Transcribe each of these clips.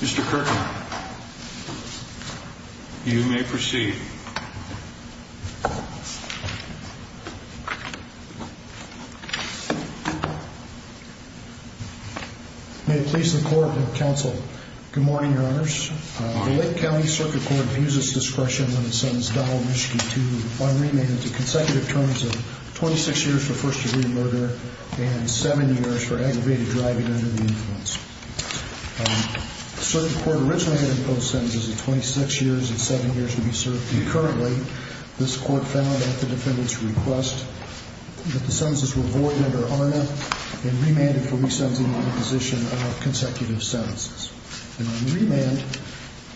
Mr. Kirkman, you may proceed. May it please the court and counsel. Good morning, your honors. The Lake County Circuit Court abuses discretion when it sentences Donald Mischke to one remand into consecutive terms of 26 years for first degree murder and seven years for aggravated driving under the influence. So the court originally had imposed sentences of 26 years and seven years to be served. And currently, this court found at the defendant's request that the sentences were void under ARNA and remanded for resensing the position of consecutive sentences. And on remand,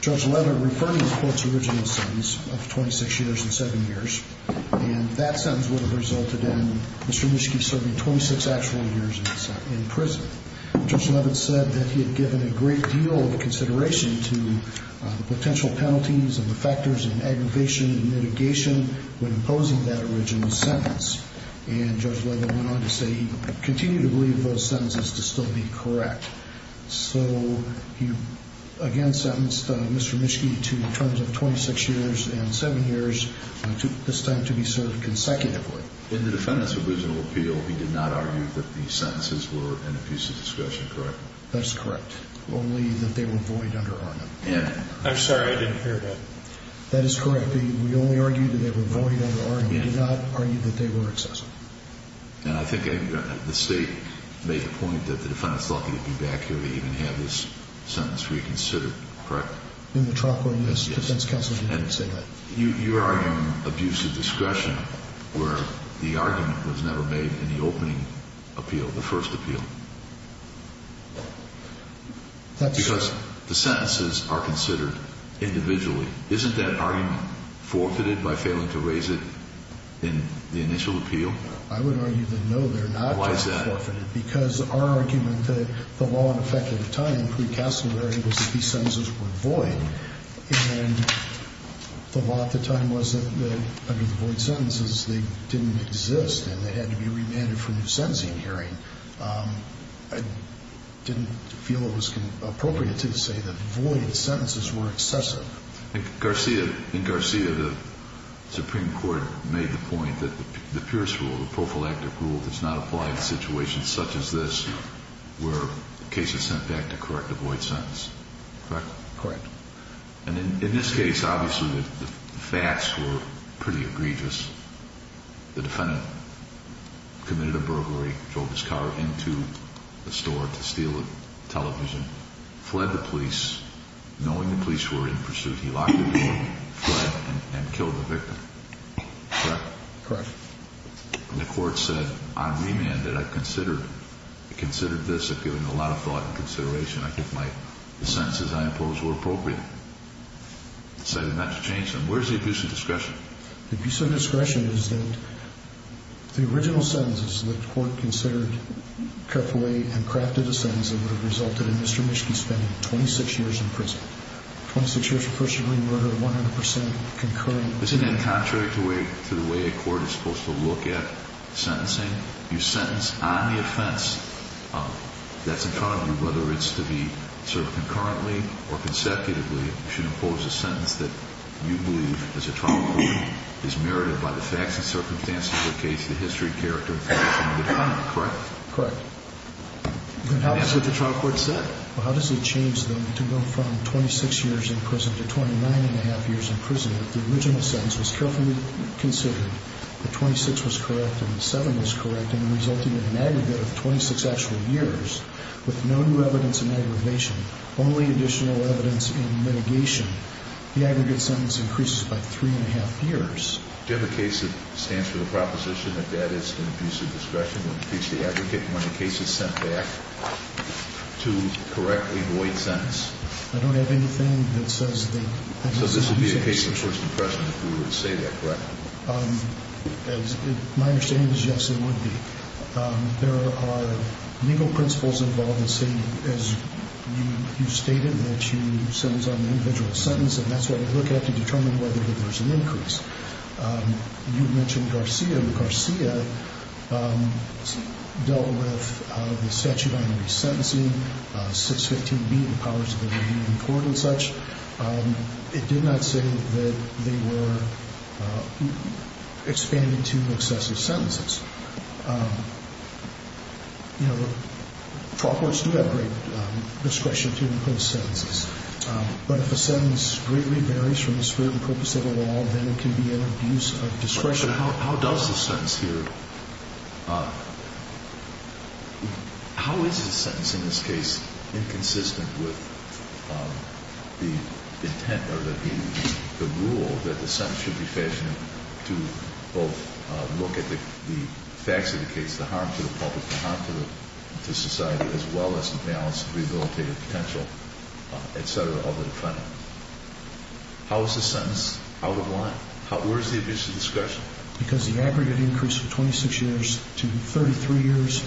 Judge Leavitt referred to the court's original sentence of 26 years and seven years. And that sentence would have resulted in Mr. Mischke serving 26 actual years in prison. Judge Leavitt said that he had given a great deal of consideration to the potential penalties and the factors in aggravation and mitigation when imposing that original sentence. And Judge Leavitt went on to say he continued to believe those sentences to still be correct. So he again sentenced Mr. Mischke to terms of 26 years and seven years, this time to be served consecutively. In the defendant's original appeal, he did not argue that the sentences were an abuse of discretion, correct? That is correct. Only that they were void under ARNA. I'm sorry. I didn't hear that. That is correct. We only argued that they were void under ARNA. We did not argue that they were excessive. And I think the State made the point that the defendant's lucky to be back here to even have this sentence reconsidered, correct? In the trial court, yes. Defense counsel did not say that. You're arguing abuse of discretion where the argument was never made in the opening appeal, the first appeal. Because the sentences are considered individually. Isn't that argument forfeited by failing to raise it in the initial appeal? I would argue that, no, they're not forfeited. Why is that? Because our argument that the law in effect at the time, pre-Castleberry, was that these sentences were void. And the law at the time was that under the void sentences, they didn't exist and they had to be remanded for new sentencing hearing. I didn't feel it was appropriate to say that void sentences were excessive. In Garcia, the Supreme Court made the point that the Pierce rule, the prophylactic rule, does not apply in situations such as this where cases sent back to correct a void sentence. Correct? Correct. And in this case, obviously the facts were pretty egregious. The defendant committed a burglary, drove his car into a store to steal a television, fled the police, knowing the police were in pursuit, he locked the door, fled, and killed the victim. Correct? Correct. And the court said, I'm remanded. I considered this, I've given a lot of thought and consideration. I think the sentences I imposed were appropriate. Where's the abuse of discretion? The abuse of discretion is that the original sentences the court considered cut away and crafted a sentence that would have resulted in Mr. Mischke spending 26 years in prison. 26 years of first degree murder, 100% concurring. Isn't that contrary to the way a court is supposed to look at sentencing? You sentence on the offense that's in front of you, whether it's to be sort of concurrently or consecutively, should impose a sentence that you believe, as a trial court, is merited by the facts and circumstances of the case, the history, character, and function of the defendant. Correct? Correct. And that's what the trial court said. Well, how does it change then to go from 26 years in prison to 29 and a half years in prison if the original sentence was carefully considered, but 26 was correct and 7 was correct and resulted in an aggregate of 26 actual years with no new evidence in aggravation, only additional evidence in litigation? The aggregate sentence increases by three and a half years. Do you have a case that stands for the proposition that that is an abuse of discretion when the case is sent back to correct a void sentence? I don't have anything that says that. So this would be a case of first impression if we were to say that, correct? My understanding is yes, it would be. There are legal principles involved that say, as you stated, that you sentence on an individual sentence, and that's what we look at to determine whether there's an increase. You mentioned Garcia. Garcia dealt with the statute on resentencing, 615B and the powers of the review of the court and such. It did not say that they were expanding to excessive sentences. You know, trial courts do have great discretion to impose sentences, but if a sentence greatly varies from the spirit and purpose of the law, then it can be an abuse of discretion. So how does the sentence here, how is the sentence in this case inconsistent with the intent or the rule that the sentence should be fashioned to both look at the facts of the case, the harm to the public, the harm to society, as well as the balance of rehabilitative potential, et cetera, of the defendant? How is the sentence out of line? Where is the abuse of discretion? Because the aggregate increase from 26 years to 33 years,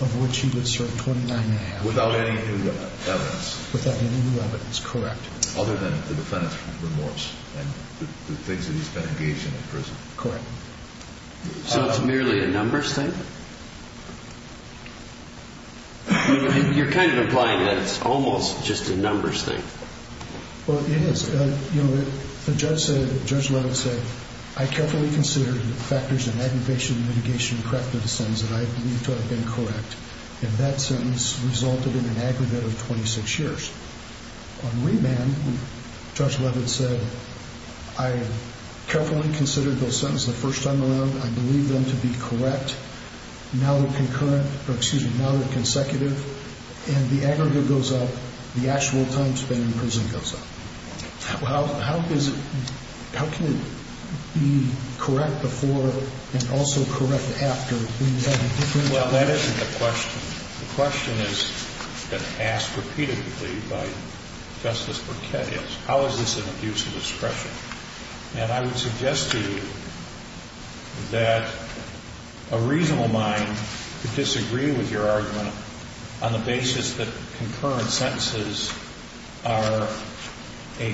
of which he was served 29 and a half. Without any new evidence. Without any new evidence, correct. Other than the defendant's remorse and the things that he's been engaged in in prison. Correct. So it's merely a numbers thing? You're kind of implying that it's almost just a numbers thing. Well, it is. You know, the judge said, Judge Leavitt said, I carefully considered the factors in aggravation, mitigation, correctness of the sentence that I believe to have been correct. And that sentence resulted in an aggregate of 26 years. On remand, Judge Leavitt said, I carefully considered those sentences the first time around. I believe them to be correct. Now they're concurrent, or excuse me, now they're consecutive. And the aggregate goes up. The actual time spent in prison goes up. Well, how is it, how can it be correct before and also correct after? Well, that isn't the question. The question has been asked repeatedly by Justice Borquette is, how is this an abuse of discretion? And I would suggest to you that a reasonable mind could disagree with your argument on the basis that concurrent sentences are a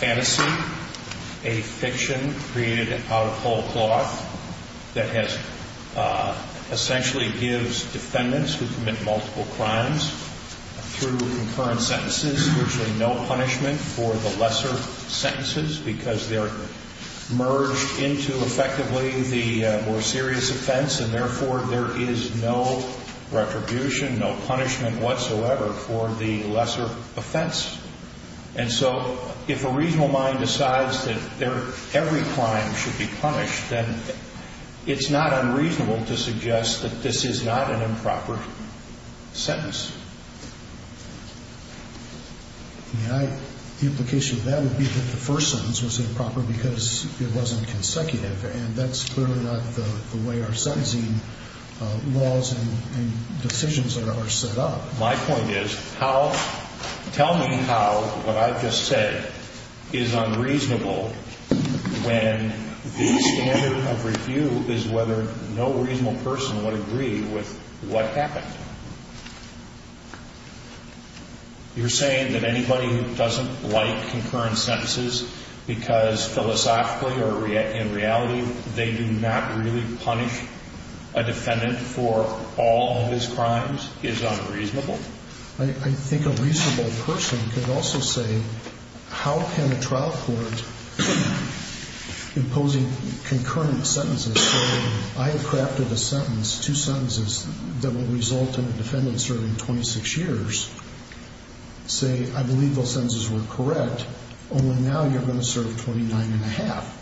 fantasy, a fiction created out of whole cloth that has essentially gives defendants who commit multiple crimes, through concurrent sentences, virtually no punishment for the lesser sentences, because they're merged into effectively the more serious offense, and therefore there is no retribution, no punishment whatsoever for the lesser offense. And so if a reasonable mind decides that every crime should be punished, then it's not unreasonable to suggest that this is not an improper sentence. The implication of that would be that the first sentence was improper because it wasn't consecutive, and that's clearly not the way our sentencing laws and decisions are set up. My point is, tell me how what I've just said is unreasonable when the standard of review is whether no reasonable person would agree with what happened. You're saying that anybody who doesn't like concurrent sentences because philosophically or in reality, they do not really punish a defendant for all of his crimes is unreasonable? I think a reasonable person could also say, how can a trial court, imposing concurrent sentences, say I have crafted a sentence, two sentences that will result in a defendant serving 26 years, say I believe those sentences were correct, only now you're going to serve 29 and a half.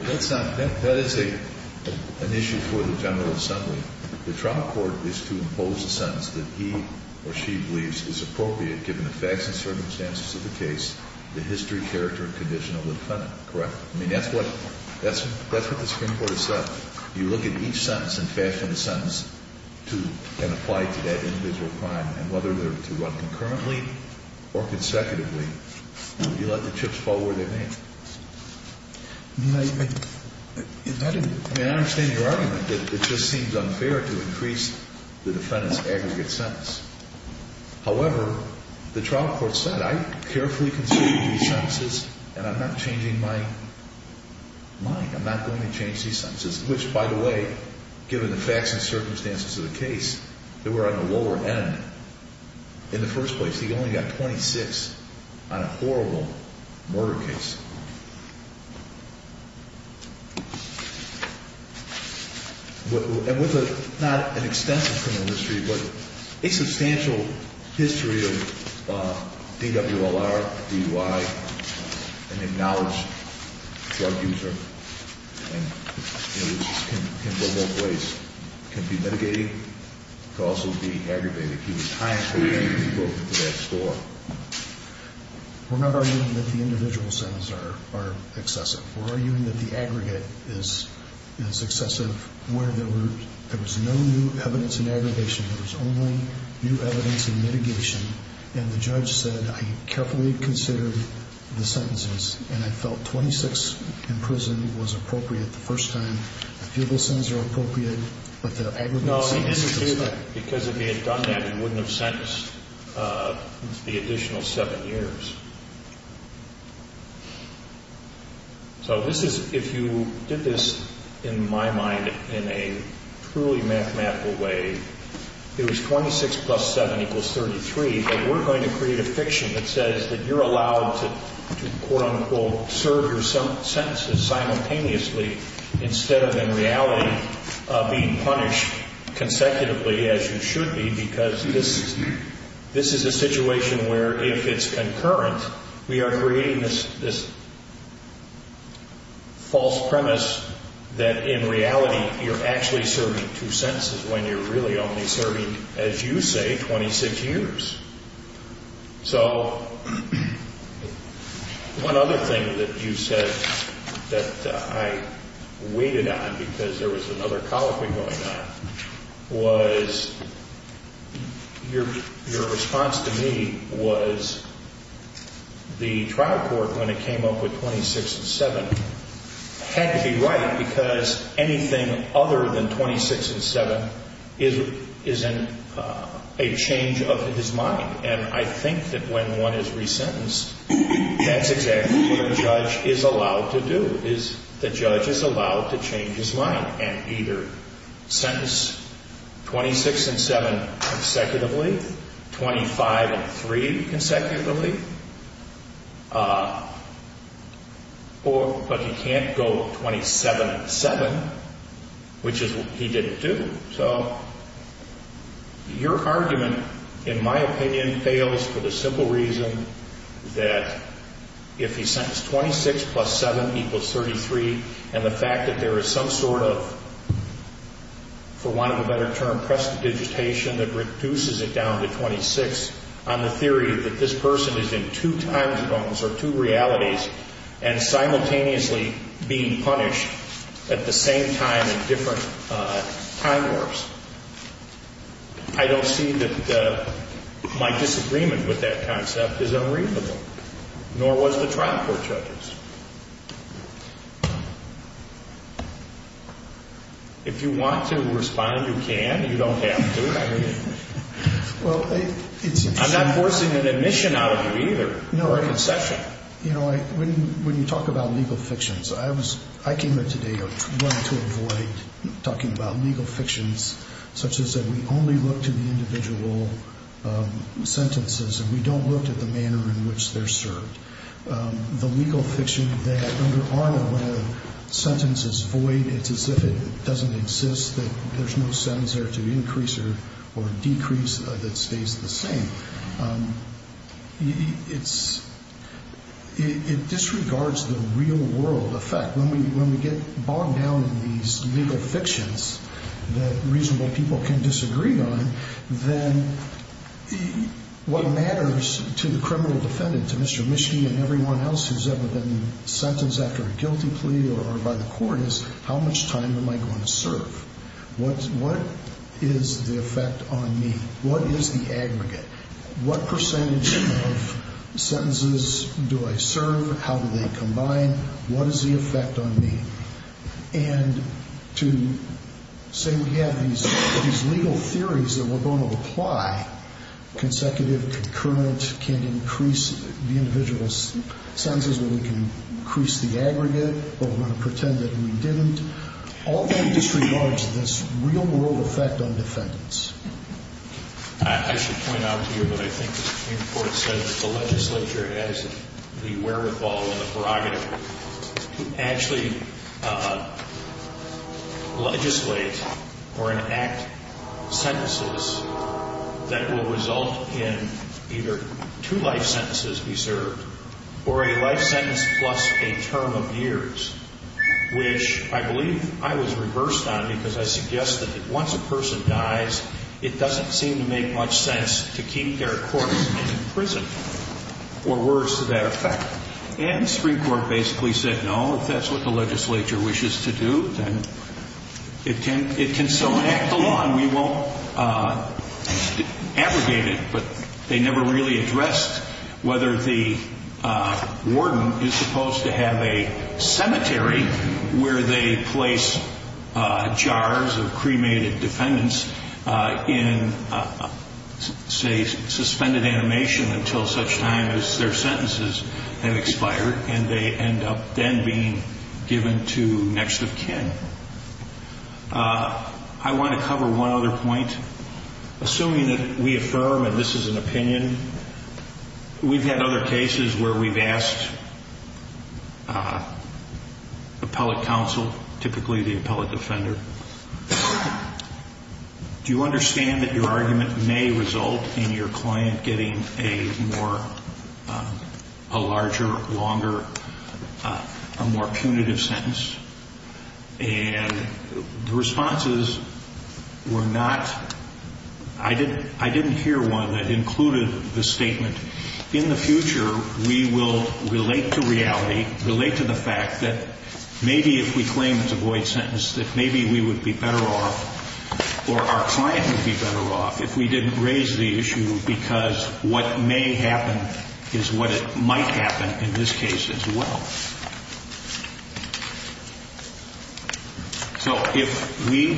That is an issue for the General Assembly. The trial court is to impose a sentence that he or she believes is appropriate given the facts and circumstances of the case, the history, character, and condition of the defendant, correct? I mean, that's what the Supreme Court has said. You look at each sentence and fashion a sentence to apply to that individual crime, and whether they're to run concurrently or consecutively, you let the chips fall where they may. I mean, I understand your argument that it just seems unfair to increase the defendant's aggregate sentence. However, the trial court said I carefully considered these sentences and I'm not changing my mind. I'm not going to change these sentences, which, by the way, given the facts and circumstances of the case, they were on the lower end in the first place. He only got 26 on a horrible murder case. And with not an extensive criminal history, but a substantial history of DWLR, DUI, an acknowledged drug user, which in both ways can be mitigated, can also be aggravated. He was time-consuming to go through that score. We're not arguing that the individual sentences are excessive. We're arguing that the aggregate is excessive where there was no new evidence in aggravation. There was only new evidence in mitigation. And the judge said I carefully considered the sentences, and I felt 26 in prison was appropriate the first time. A few of those sentences are appropriate, but the aggregate sentence is not. No, he didn't do that. Because if he had done that, he wouldn't have sentenced the additional seven years. So this is, if you did this, in my mind, in a truly mathematical way, it was 26 plus 7 equals 33. But we're going to create a fiction that says that you're allowed to, quote, unquote, serve your sentences simultaneously instead of, in reality, being punished consecutively as you should be. Because this is a situation where if it's concurrent, we are creating this false premise that, in reality, you're actually serving two sentences when you're really only serving, as you say, 26 years. So one other thing that you said that I waited on, because there was another colloquy going on, was your response to me was the trial court, when it came up with 26 and 7, had to be right because anything other than 26 and 7 is a change of his mind. And I think that when one is resentenced, that's exactly what a judge is allowed to do, is the judge is allowed to change his mind and either sentence 26 and 7 consecutively, 25 and 3 consecutively, or, but he can't go 27 and 7, which is what he didn't do. So your argument, in my opinion, fails for the simple reason that if he sentenced 26 plus 7 equals 33 and the fact that there is some sort of, for want of a better term, prestidigitation that reduces it down to 26, on the theory that this person is in two time zones or two realities and simultaneously being punished at the same time in different time warps, I don't see that my disagreement with that concept is unreasonable, nor was the trial court judge's. If you want to respond, you can, you don't have to. I'm not forcing an admission out of you either or a concession. When you talk about legal fictions, I came here today wanting to avoid talking about legal fictions such as that we only look to the individual sentences and we don't look at the manner in which they're served. The legal fiction that under Arnett where a sentence is void, it's as if it doesn't exist, that there's no sentence there to increase or decrease that stays the same. It disregards the real world effect. When we get bogged down in these legal fictions that reasonable people can disagree on, then what matters to the criminal defendant, to Mr. Mischny and everyone else who's ever been sentenced after a guilty plea or by the court is how much time am I going to serve? What is the effect on me? What is the aggregate? What percentage of sentences do I serve? How do they combine? What is the effect on me? And to say we have these legal theories that we're going to apply, consecutive, concurrent, can increase the individual sentences or we can increase the aggregate or we're going to pretend that we didn't, all that disregards this real world effect on defendants. I should point out to you that I think the Supreme Court said that the legislature has the wherewithal and the prerogative to actually legislate or enact sentences that will result in either two life sentences be served or a life sentence plus a term of years, which I believe I was reversed on because I suggested that once a person dies, it doesn't seem to make much sense to keep their corpse in prison or worse to that effect. And the Supreme Court basically said, no, if that's what the legislature wishes to do, then it can still act alone. We won't aggregate it, but they never really addressed whether the warden is supposed to have a cemetery where they place jars of cremated defendants in, say, suspended animation until such time as their sentences have expired and they end up then being given to next of kin. I want to cover one other point. Assuming that we affirm and this is an opinion, we've had other cases where we've asked appellate counsel, typically the appellate defender, do you understand that your argument may result in your client getting a larger, longer, a more punitive sentence? And the responses were not, I didn't hear one that included the statement. In the future, we will relate to reality, relate to the fact that maybe if we claim it's a void sentence, that maybe we would be better off or our client would be better off if we didn't raise the issue because what may happen is what might happen in this case as well. So if we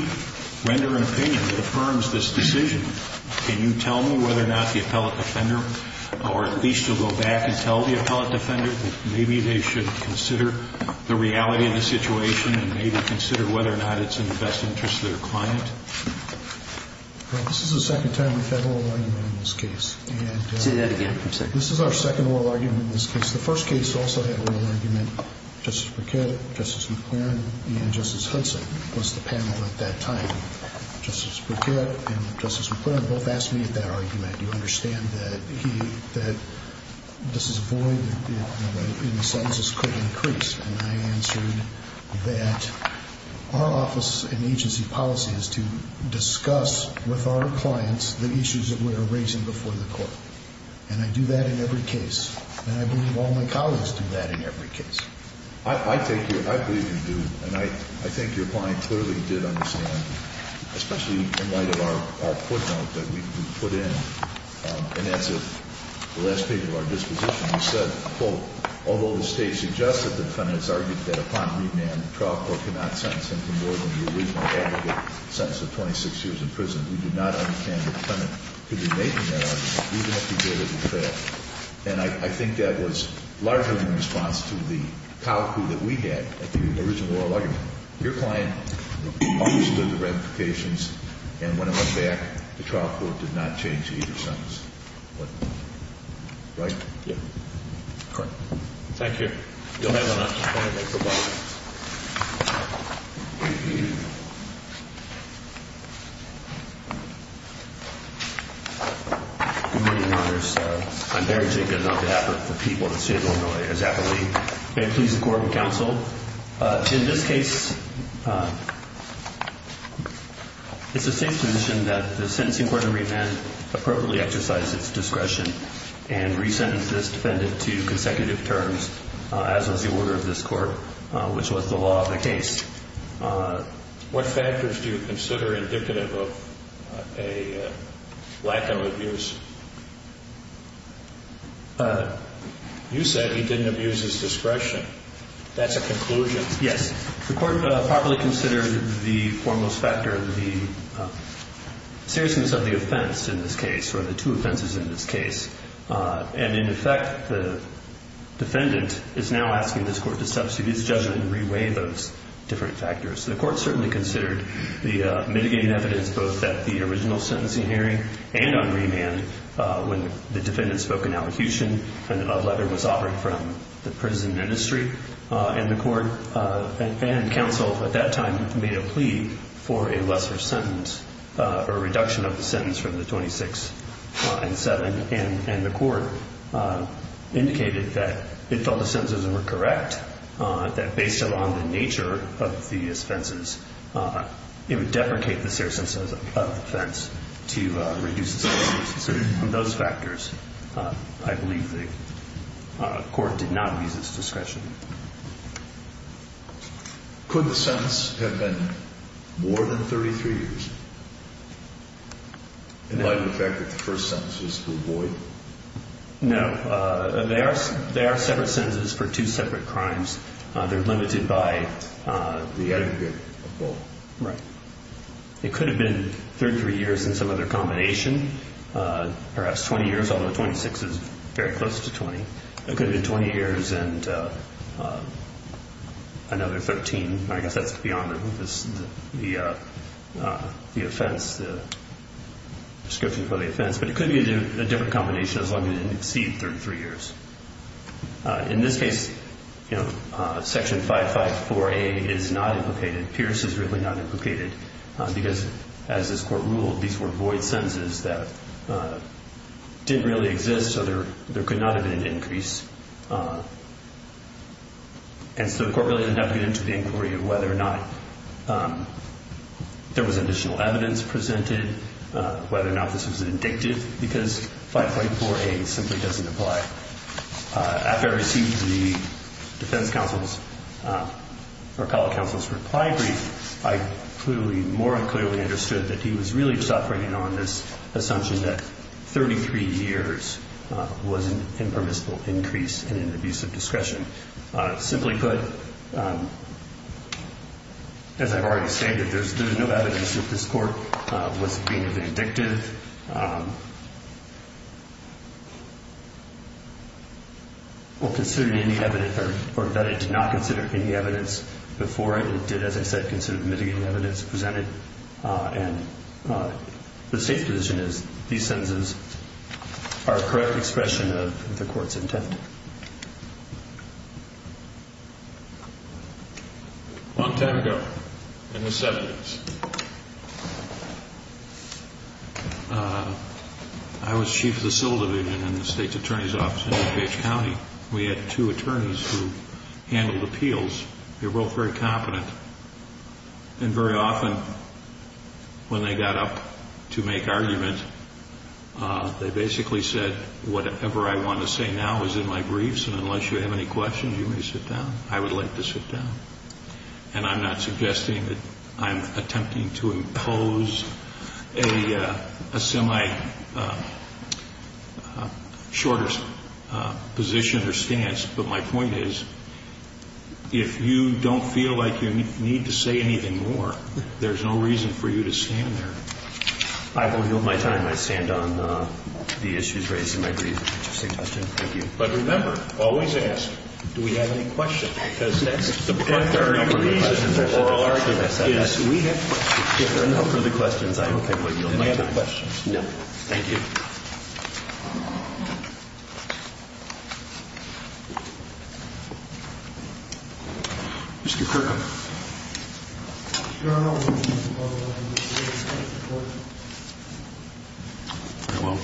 render an opinion that affirms this decision, can you tell me whether or not the appellate defender or at least to go back and tell the appellate defender that maybe they should consider the reality of the situation and maybe consider whether or not it's in the best interest of their client? Well, this is the second time we've had oral argument in this case. Say that again, I'm sorry. This is our second oral argument in this case. The first case also had oral argument. Justice Briquette, Justice McClaren, and Justice Hudson was the panel at that time. Justice Briquette and Justice McClaren both asked me at that argument, do you understand that this is a void and the sentences could increase? And I answered that our office and agency policy is to discuss with our clients the issues that we are raising before the court, and I do that in every case, and I believe all my colleagues do that in every case. I believe you do, and I think your client clearly did understand, especially in light of our court note that we put in in answer to the last paper of our disposition. We said, quote, although the State suggests that the defendant has argued that upon remand, the trial court cannot sentence him for more than the original aggregate sentence of 26 years in prison, we do not understand the defendant could be making that argument, even if he did, as a fact. And I think that was largely in response to the cowpoo that we had at the original oral argument. Your client understood the ramifications, and when it went back, the trial court did not change either sentence. Right? Yeah. Correct. Thank you. You'll have a moment. Good morning, Your Honors. I'm Barry Jenkins, on behalf of the people of the State of Illinois, as I believe. May I please the Court of Counsel? In this case, it's the State's position that the sentencing court in remand appropriately exercised its discretion and resentenced this defendant to consecutive terms, as was the order of this Court, which was the law of the case. What factors do you consider indicative of a lack of abuse? You said he didn't abuse his discretion. That's a conclusion. Yes. The Court properly considered the foremost factor, the seriousness of the offense in this case, or the two offenses in this case. And, in effect, the defendant is now asking this Court to substitute his judgment and reweigh those different factors. So the Court certainly considered the mitigating evidence both at the original sentencing hearing and on remand when the defendant spoke in elocution and a letter was offered from the prison ministry and the Court and counsel at that time made a plea for a lesser sentence, a reduction of the sentence from the 26 and 7. And the Court indicated that it thought the sentences were correct, that based upon the nature of these offenses, it would deprecate the seriousness of the offense to reduce the sentence. So from those factors, I believe the Court did not lose its discretion. Could the sentence have been more than 33 years? In light of the fact that the first sentence was to avoid? No. They are separate sentences for two separate crimes. They're limited by the aggregate of both. Right. It could have been 33 years and some other combination, perhaps 20 years, although 26 is very close to 20. It could have been 20 years and another 13. I guess that's beyond the offense, the description for the offense. But it could be a different combination as long as it didn't exceed 33 years. In this case, Section 554A is not implicated. Pierce is really not implicated because, as this Court ruled, these were void sentences that didn't really exist, so there could not have been an increase. And so the Court really didn't have to get into the inquiry of whether or not there was additional evidence presented, whether or not this was because 554A simply doesn't apply. After I received the defense counsel's reply brief, I more clearly understood that he was really just operating on this assumption that 33 years was an impermissible increase in an abuse of discretion. Simply put, as I've already stated, there's no evidence that this Court was being vindictive or considered any evidence or that it did not consider any evidence before it. It did, as I said, consider the mitigating evidence presented. And the State's position is these sentences are a correct expression of the Court's intent. Long time ago, in the 70s, I was Chief of the Civil Division in the State's Attorney's Office in New Page County. We had two attorneys who handled appeals. They were both very competent. And very often, when they got up to make argument, they basically said, I think that whatever I want to say now is in my briefs, and unless you have any questions, you may sit down. I would like to sit down. And I'm not suggesting that I'm attempting to impose a semi-shorter position or stance. But my point is, if you don't feel like you need to say anything more, there's no reason for you to stand there. I won't yield my time. I stand on the issues raised in my brief. Thank you. But remember, always ask, do we have any questions? Because that's the primary reason for oral arguments. Yes, we have questions. If there are no further questions, I won't be able to yield my time. Do we have any questions? No. Mr. Kirkham.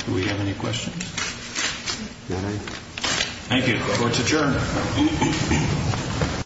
Do we have any questions? Thank you. Court's adjourned.